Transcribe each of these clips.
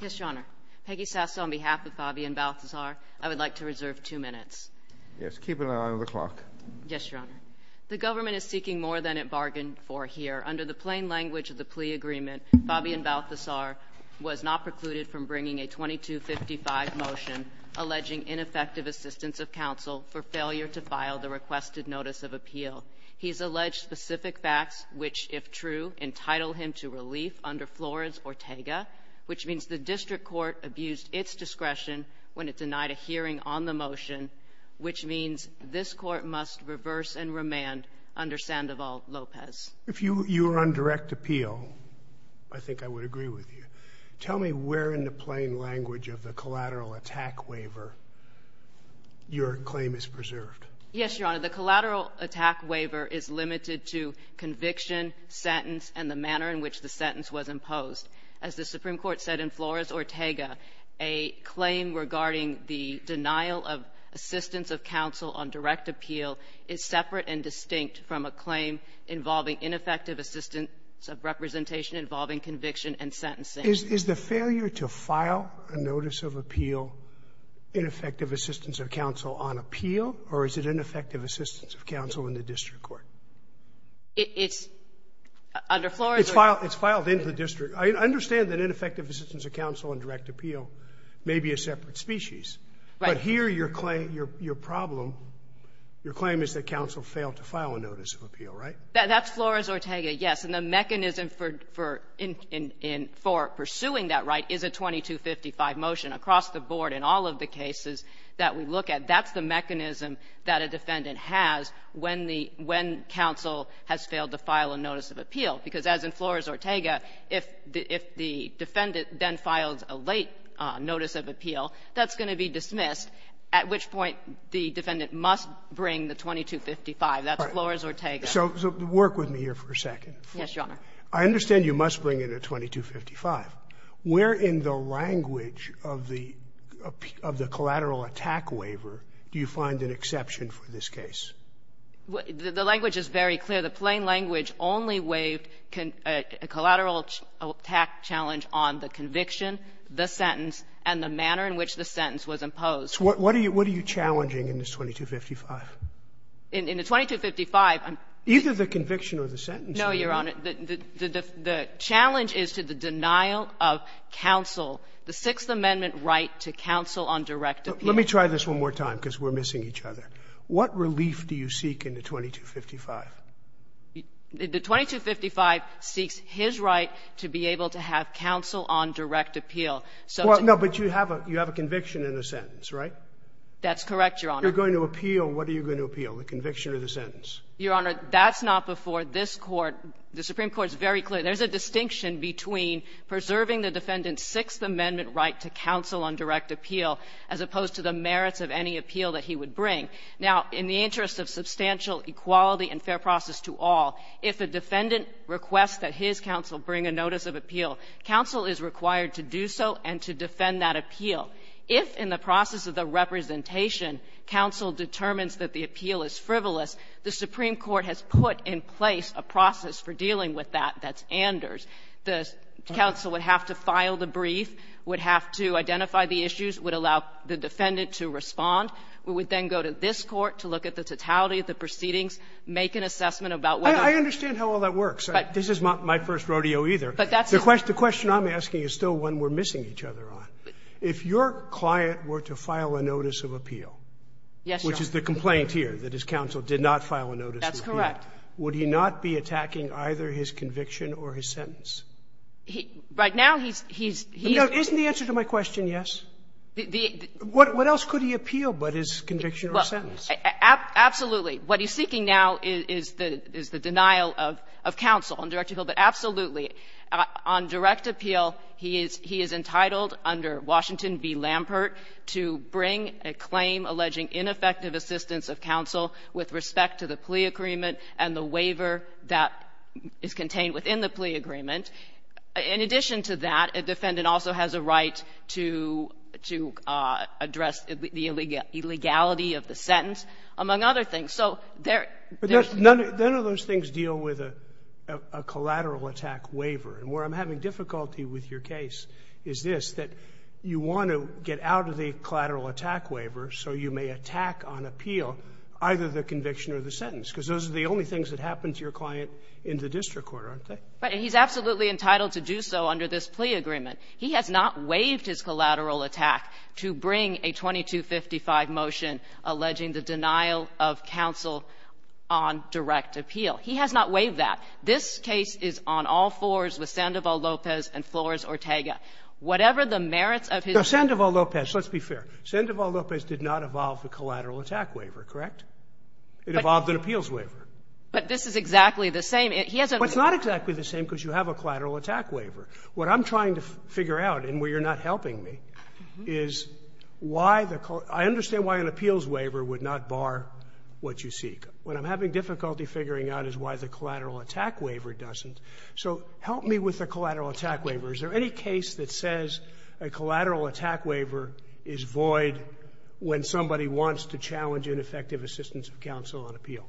Yes, Your Honor. Peggy Sasso on behalf of Fabian-Baltazar, I would like to reserve two minutes. Yes, keep an eye on the clock. Yes, Your Honor. The government is seeking more than it bargained for here. Under the plain language of the plea agreement, Fabian-Baltazar was not precluded from bringing a 2255 motion alleging ineffective assistance of counsel for failure to file the requested notice of appeal. He's alleged specific facts which, if true, entitle him to relief under Flores-Ortega, which means the district court abused its discretion when it denied a hearing on the motion, which means this court must reverse and remand under Sandoval-Lopez. If you were on direct appeal, I think I would agree with you. Tell me where in the plain language of the collateral attack waiver your claim is preserved. Yes, Your Honor. The collateral attack waiver is limited to conviction, sentence, and the manner in which the sentence was imposed. As the Supreme Court said in Flores-Ortega, a claim regarding the denial of assistance of counsel on direct appeal is separate and distinct from a claim involving ineffective assistance of representation involving conviction and sentencing. Is the failure to file a notice of appeal, ineffective assistance of counsel on appeal, or is it ineffective assistance of counsel in the district court? It's under Flores-Ortega. It's filed into the district. I understand that ineffective assistance of counsel on direct appeal may be a separate species. Right. But here your claim, your problem, your claim is that counsel failed to file a notice of appeal, right? That's Flores-Ortega, yes. And the mechanism for pursuing that right is a 2255 motion. Across the board, in all of the cases that we look at, that's the mechanism that a defendant has when the — when counsel has failed to file a notice of appeal, because as in Flores-Ortega, if the defendant then files a late notice of appeal, that's going to be dismissed, at which point the defendant must bring the 2255. That's Flores-Ortega. So work with me here for a second. Yes, Your Honor. I understand you must bring in a 2255. Where in the language of the — of the collateral attack waiver do you find an exception for this case? The language is very clear. The plain language only waived a collateral attack challenge on the conviction, the sentence, and the manner in which the sentence was imposed. What are you challenging in this 2255? In the 2255, I'm — Either the conviction or the sentence. No, Your Honor. The challenge is to the denial of counsel, the Sixth Amendment right to counsel on direct appeal. Let me try this one more time, because we're missing each other. What relief do you seek in the 2255? The 2255 seeks his right to be able to have counsel on direct appeal. So to — Well, no, but you have a — you have a conviction and a sentence, right? That's correct, Your Honor. If you're going to appeal, what are you going to appeal, the conviction or the sentence? Your Honor, that's not before this Court. The Supreme Court is very clear. There's a distinction between preserving the defendant's Sixth Amendment right to counsel on direct appeal as opposed to the merits of any appeal that he would bring. Now, in the interest of substantial equality and fair process to all, if a defendant requests that his counsel bring a notice of appeal, counsel is required to do so and to defend that appeal. If, in the process of the representation, counsel determines that the appeal is frivolous, the Supreme Court has put in place a process for dealing with that that's Anders. The counsel would have to file the brief, would have to identify the issues, would allow the defendant to respond. We would then go to this Court to look at the totality of the proceedings, make an assessment about whether — I understand how all that works. This is not my first rodeo, either. But that's — The question I'm asking is still one we're missing each other on. If your client were to file a notice of appeal — Yes, Your Honor. Which is the complaint here, that his counsel did not file a notice of appeal. That's correct. Would he not be attacking either his conviction or his sentence? He — right now, he's — he's — Isn't the answer to my question, yes? The — What else could he appeal but his conviction or sentence? Absolutely. What he's seeking now is the denial of counsel on direct appeal. But absolutely, on direct appeal, he is entitled under Washington v. Lampert to bring a claim alleging ineffective assistance of counsel with respect to the plea agreement and the waiver that is contained within the plea agreement. In addition to that, a defendant also has a right to — to address the illegality of the sentence, among other things. So there — But none of those things deal with a — a collateral attack waiver. And where I'm having difficulty with your case is this, that you want to get out of the collateral attack waiver so you may attack on appeal either the conviction or the sentence, because those are the only things that happen to your client in the district court, aren't they? Right. And he's absolutely entitled to do so under this plea agreement. He has not waived his collateral attack to bring a 2255 motion alleging the denial of counsel on direct appeal. He has not waived that. This case is on all fours with Sandoval Lopez and Flores-Ortega. Whatever the merits of his — No. Sandoval Lopez, let's be fair. Sandoval Lopez did not evolve a collateral attack waiver, correct? It evolved an appeals waiver. But this is exactly the same. He hasn't — But it's not exactly the same because you have a collateral attack waiver. What I'm trying to figure out, and where you're not helping me, is why the — I understand why an appeals waiver would not bar what you seek. When I'm having difficulty figuring out is why the collateral attack waiver doesn't. So help me with the collateral attack waiver. Is there any case that says a collateral attack waiver is void when somebody wants to challenge ineffective assistance of counsel on appeal?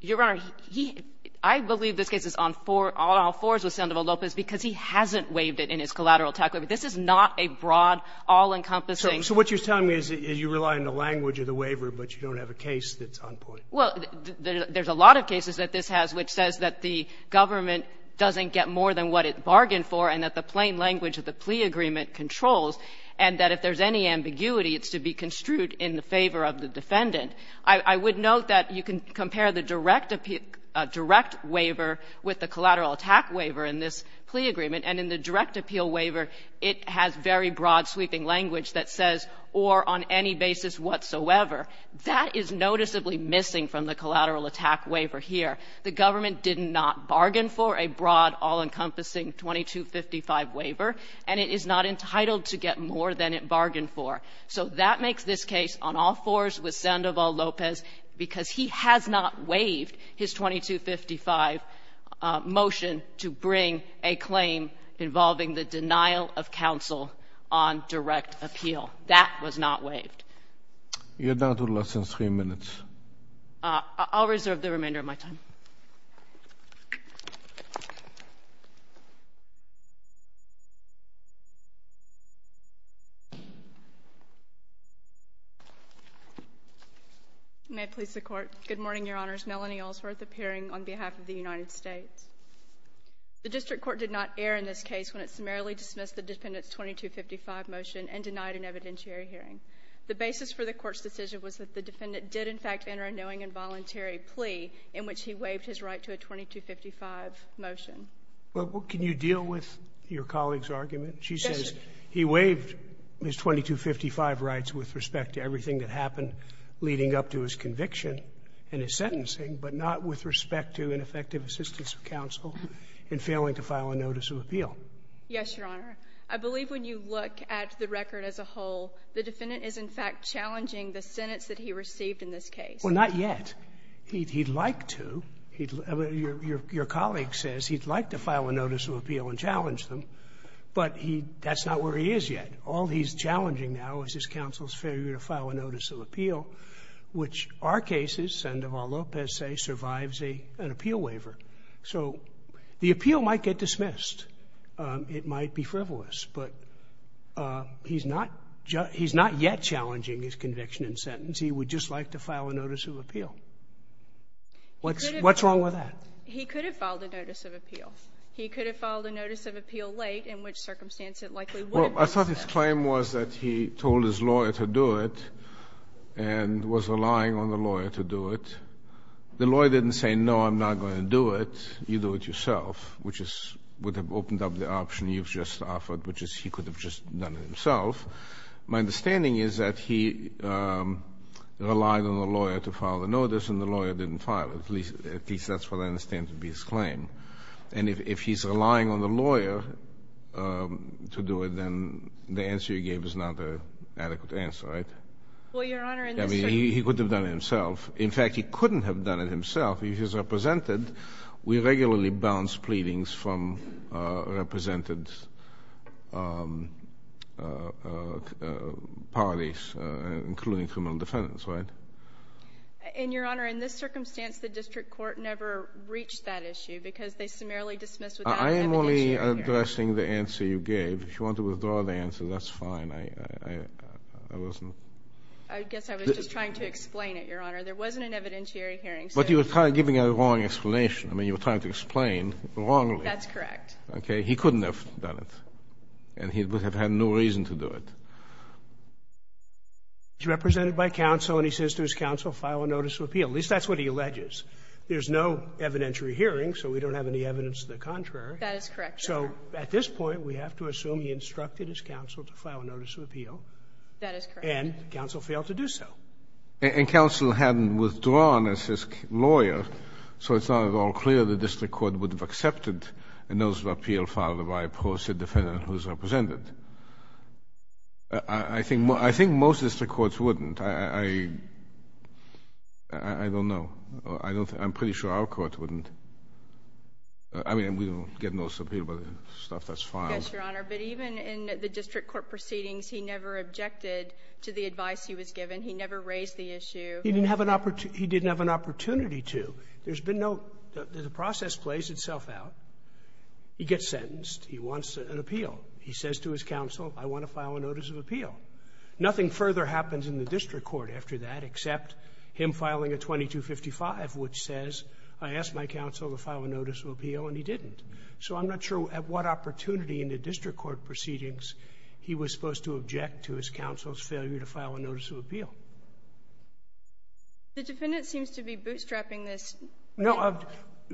Your Honor, he — I believe this case is on four — on all fours with Sandoval Lopez because he hasn't waived it in his collateral attack waiver. This is not a broad, all-encompassing — So what you're telling me is you rely on the language of the waiver, but you don't have a case that's on point. Well, there's a lot of cases that this has, which says that the government doesn't get more than what it bargained for, and that the plain language of the plea agreement controls, and that if there's any ambiguity, it's to be construed in the favor of the defendant. I would note that you can compare the direct appeal — direct waiver with the collateral attack waiver in this plea agreement. And in the direct appeal waiver, it has very broad, sweeping language that says, or on any basis whatsoever. That is noticeably missing from the collateral attack waiver here. The government did not bargain for a broad, all-encompassing 2255 waiver, and it is not entitled to get more than it bargained for. So that makes this case on all fours with Sandoval Lopez because he has not waived his 2255 motion to bring a claim involving the denial of counsel on direct appeal. That was not waived. You're down to the last three minutes. I'll reserve the remainder of my time. May it please the Court. Good morning, Your Honors. Melanie Allsworth appearing on behalf of the United States. The district court did not err in this case when it summarily dismissed the defendant's 2255 motion and denied an evidentiary hearing. The basis for the Court's decision was that the defendant did, in fact, enter a knowing and voluntary plea in which he waived his right to a 2255 motion. Well, can you deal with your colleague's argument? She says he waived his 2255 rights with respect to everything that happened leading up to his conviction and his sentencing, but not with respect to ineffective assistance of counsel in failing to file a notice of appeal. Yes, Your Honor. I believe when you look at the record as a whole, the defendant is, in fact, challenging the sentence that he received in this case. Well, not yet. He'd like to. Your colleague says he'd like to file a notice of appeal and challenge them, but he that's not where he is yet. All he's challenging now is his counsel's failure to file a notice of appeal, which our cases, Sen. Duval Lopez's, survives an appeal waiver. So the appeal might get dismissed. It might be frivolous. But he's not yet challenging his conviction and sentence. He would just like to file a notice of appeal. What's wrong with that? He could have filed a notice of appeal. He could have filed a notice of appeal late, in which circumstance it likely would have been. Well, I thought his claim was that he told his lawyer to do it and was relying on the lawyer to do it. The lawyer didn't say, no, I'm not going to do it. You do it yourself, which would have opened up the option you've just offered, which is he could have just done it himself. My understanding is that he relied on the lawyer to file the notice, and the lawyer didn't file it. At least that's what I understand to be his claim. And if he's relying on the lawyer to do it, then the answer he gave is not an adequate answer, right? Well, Your Honor, in this case he could have done it himself. In fact, he couldn't have done it himself. If he's represented, we regularly bounce pleadings from represented parties, including criminal defendants, right? And Your Honor, in this circumstance, the district court never reached that issue because they summarily dismissed without an evidentiary hearing. I am only addressing the answer you gave. If you want to withdraw the answer, that's fine. I wasn't — I guess I was just trying to explain it, Your Honor. There wasn't an evidentiary hearing, so — But you were giving a wrong explanation. I mean, you were trying to explain wrongly. That's correct. Okay. He couldn't have done it, and he would have had no reason to do it. He's represented by counsel, and he says to his counsel, file a notice of appeal. At least that's what he alleges. There's no evidentiary hearing, so we don't have any evidence to the contrary. That is correct, Your Honor. So at this point, we have to assume he instructed his counsel to file a notice of appeal. That is correct. And counsel failed to do so. And counsel hadn't withdrawn as his lawyer, so it's not at all clear the district court would have accepted a notice of appeal filed by a pro se defendant who is represented. I think most district courts wouldn't. I don't know. I'm pretty sure our court wouldn't. I mean, we don't get notice of appeal, but stuff that's filed. Yes, Your Honor. But even in the district court proceedings, he never objected to the advice he was given. He never raised the issue. He didn't have an opportunity to. There's been no – the process plays itself out. He gets sentenced. He wants an appeal. He says to his counsel, I want to file a notice of appeal. Nothing further happens in the district court after that except him filing a 2255, which says I asked my counsel to file a notice of appeal, and he didn't. So I'm not sure at what opportunity in the district court proceedings he was supposed to object to his counsel's failure to file a notice of appeal. The defendant seems to be bootstrapping this. No.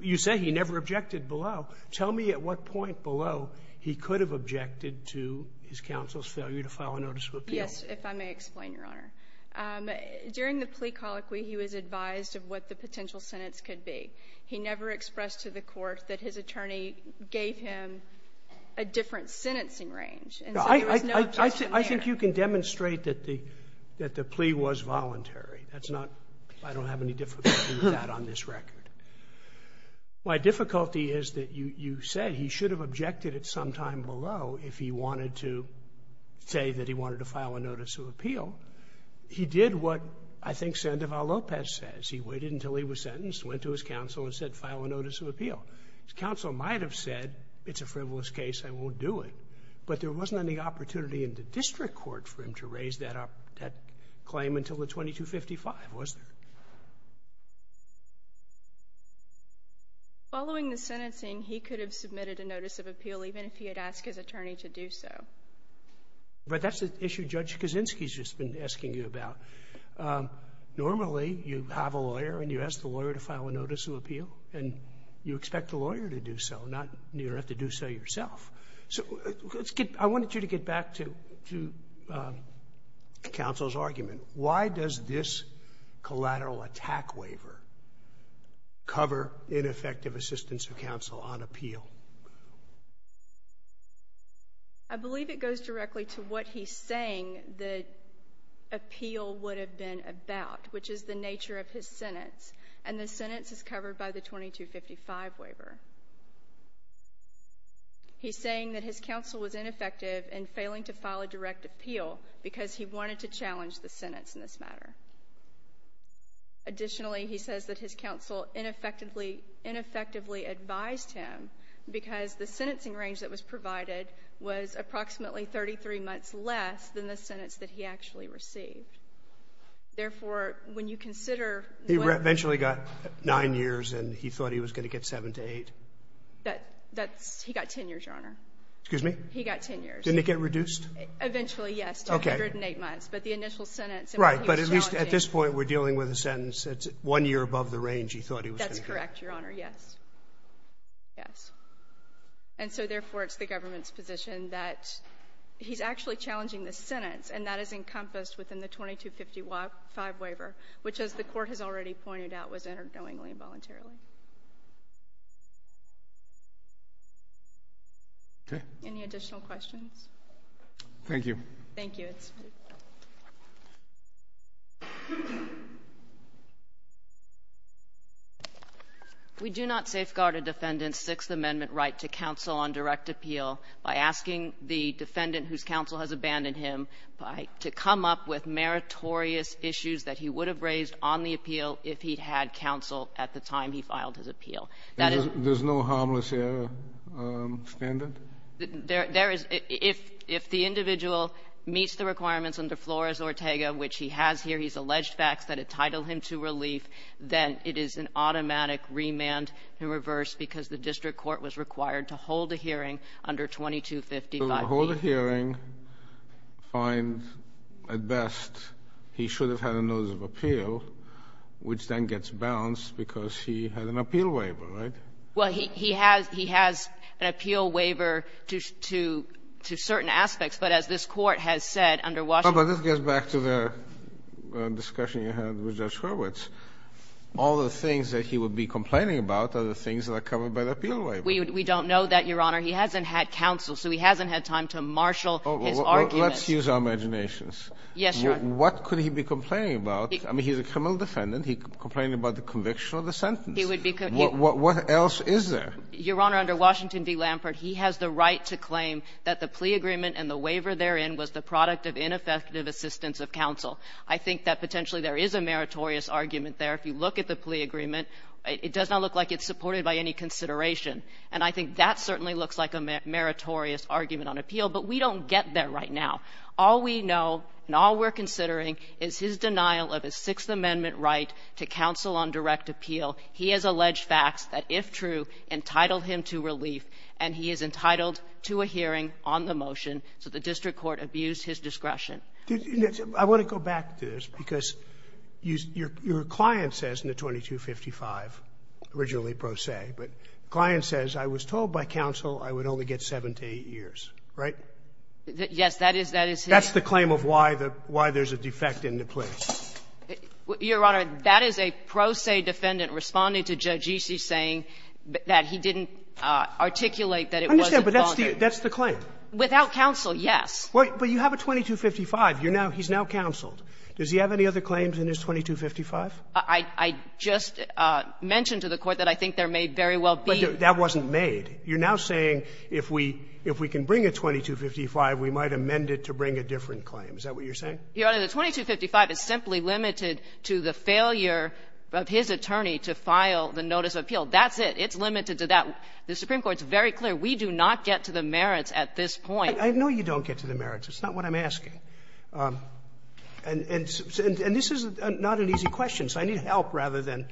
You say he never objected below. Tell me at what point below he could have objected to his counsel's failure to file a notice of appeal. Yes, if I may explain, Your Honor. During the plea colloquy, he was advised of what the potential sentence could be. He never expressed to the court that his attorney gave him a different sentencing range. And so there was no judgment there. I think you can demonstrate that the plea was voluntary. That's not – I don't have any difficulty with that on this record. My difficulty is that you said he should have objected at some time below if he wanted to say that he wanted to file a notice of appeal. He did what I think Sandoval Lopez says. He waited until he was sentenced, went to his counsel and said, file a notice of appeal. His counsel might have said, it's a frivolous case, I won't do it. But there wasn't any opportunity in the district court for him to raise that claim until the 2255, was there? Following the sentencing, he could have submitted a notice of appeal even if he had asked his attorney to do so. But that's the issue Judge Kaczynski's just been asking you about. Normally, you have a lawyer and you ask the lawyer to file a notice of appeal, and you expect the lawyer to do so, not – you don't have to do so yourself. So let's get – I wanted you to get back to counsel's argument. Why does this collateral attack waiver cover ineffective assistance of counsel on appeal? I believe it goes directly to what he's saying the appeal would have been about, which is the nature of his sentence. And the sentence is covered by the 2255 waiver. He's saying that his counsel was ineffective in failing to file a direct appeal because he wanted to challenge the sentence in this matter. Additionally, he says that his counsel ineffectively advised him because the sentencing range that was provided was approximately 33 months less than the sentence that he actually received. Therefore, when you consider what – He eventually got 9 years, and he thought he was going to get 7 to 8. That's – he got 10 years, Your Honor. Excuse me? He got 10 years. Didn't it get reduced? Eventually, yes, to 108 months. But the initial sentence – Right. But at least at this point, we're dealing with a sentence that's one year above the range he thought he was going to get. That's correct, Your Honor. Yes. Yes. And so, therefore, it's the government's position that he's actually challenging the sentence, and that is encompassed within the 2255 waiver, which, as the Court has already pointed out, was entered knowingly and voluntarily. Okay. Any additional questions? Thank you. Thank you. We do not safeguard a defendant's Sixth Amendment right to counsel on direct appeal by asking the defendant, whose counsel has abandoned him, to come up with an appeal if he had counsel at the time he filed his appeal. That is – There's no harmless error standard? There is. If the individual meets the requirements under Flores-Ortega, which he has here, he's alleged facts that entitle him to relief, then it is an automatic remand in reverse because the district court was required to hold a hearing under 2255B. So hold a hearing, find, at best, he should have had a notice of appeal, which then gets bounced because he had an appeal waiver, right? Well, he has – he has an appeal waiver to certain aspects, but as this Court has said, under Washington – But this goes back to the discussion you had with Judge Hurwitz. All the things that he would be complaining about are the things that are covered by the appeal waiver. We don't know that, Your Honor. He hasn't had counsel, so he hasn't had time to marshal his argument. Let's use our imaginations. Yes, Your Honor. What could he be complaining about? I mean, he's a criminal defendant. He could be complaining about the conviction of the sentence. He would be – What else is there? Your Honor, under Washington v. Lampert, he has the right to claim that the plea agreement and the waiver therein was the product of ineffective assistance of counsel. I think that potentially there is a meritorious argument there. If you look at the plea agreement, it does not look like it's supported by any consideration. And I think that certainly looks like a meritorious argument on appeal, but we don't get there right now. All we know and all we're considering is his denial of his Sixth Amendment right to counsel on direct appeal. He has alleged facts that, if true, entitled him to relief, and he is entitled to a hearing on the motion. So the district court abused his discretion. I want to go back to this, because your client says in the 2255, originally But the client says, I was told by counsel I would only get 7 to 8 years. Right? Yes. That is his – That's the claim of why the – why there's a defect in the plea. Your Honor, that is a pro se defendant responding to Judge Eastley saying that he didn't articulate that it wasn't – I understand, but that's the claim. Without counsel, yes. But you have a 2255. You're now – he's now counseled. Does he have any other claims in his 2255? I just mentioned to the Court that I think there may very well be. But that wasn't made. You're now saying if we can bring a 2255, we might amend it to bring a different claim. Is that what you're saying? Your Honor, the 2255 is simply limited to the failure of his attorney to file the notice of appeal. That's it. It's limited to that. The Supreme Court's very clear. We do not get to the merits at this point. I know you don't get to the merits. It's not what I'm asking. And this is not an easy question, so I need help rather than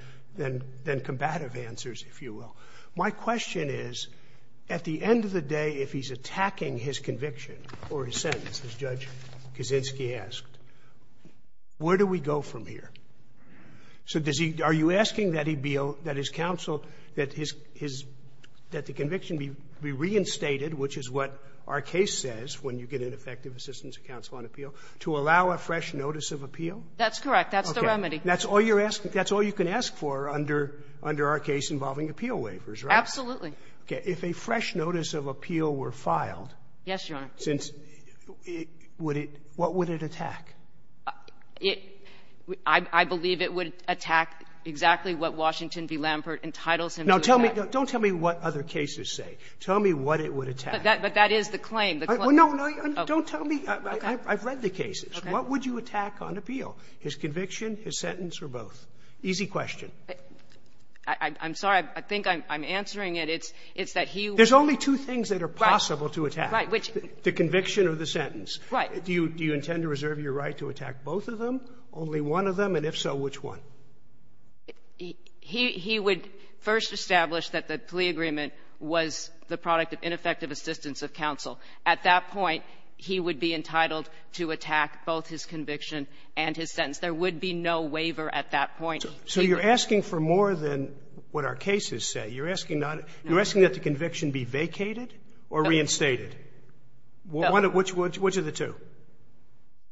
combative answers, if you will. My question is, at the end of the day, if he's attacking his conviction or his sentence, as Judge Kaczynski asked, where do we go from here? So does he – are you asking that he be – that his counsel – that his – that the conviction be reinstated, which is what our case says when you get an effective assistance of counsel on appeal, to allow a fresh notice of appeal? That's correct. That's the remedy. That's all you're asking. That's all you can ask for under – under our case involving appeal waivers, right? Absolutely. Okay. If a fresh notice of appeal were filed… Yes, Your Honor.… since – would it – what would it attack? It – I believe it would attack exactly what Washington v. Lampert entitles him to attack. Now, tell me – don't tell me what other cases say. Tell me what it would attack. But that is the claim. Well, no, no, don't tell me. I've read the cases. What would you attack on appeal? His conviction, his sentence, or both? Easy question. I'm sorry. I think I'm answering it. It's – it's that he would… There's only two things that are possible to attack, the conviction or the sentence. Right. Do you – do you intend to reserve your right to attack both of them, only one of them? And if so, which one? He would first establish that the plea agreement was the product of ineffective assistance of counsel. At that point, he would be entitled to attack both his conviction and his sentence. There would be no waiver at that point. So you're asking for more than what our cases say. You're asking not – you're asking that the conviction be vacated or reinstated? No. Which – which are the two?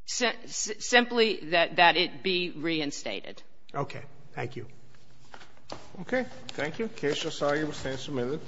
Simply that it be reinstated. Okay. Thank you. Okay. Thank you. The case just argued stands amended.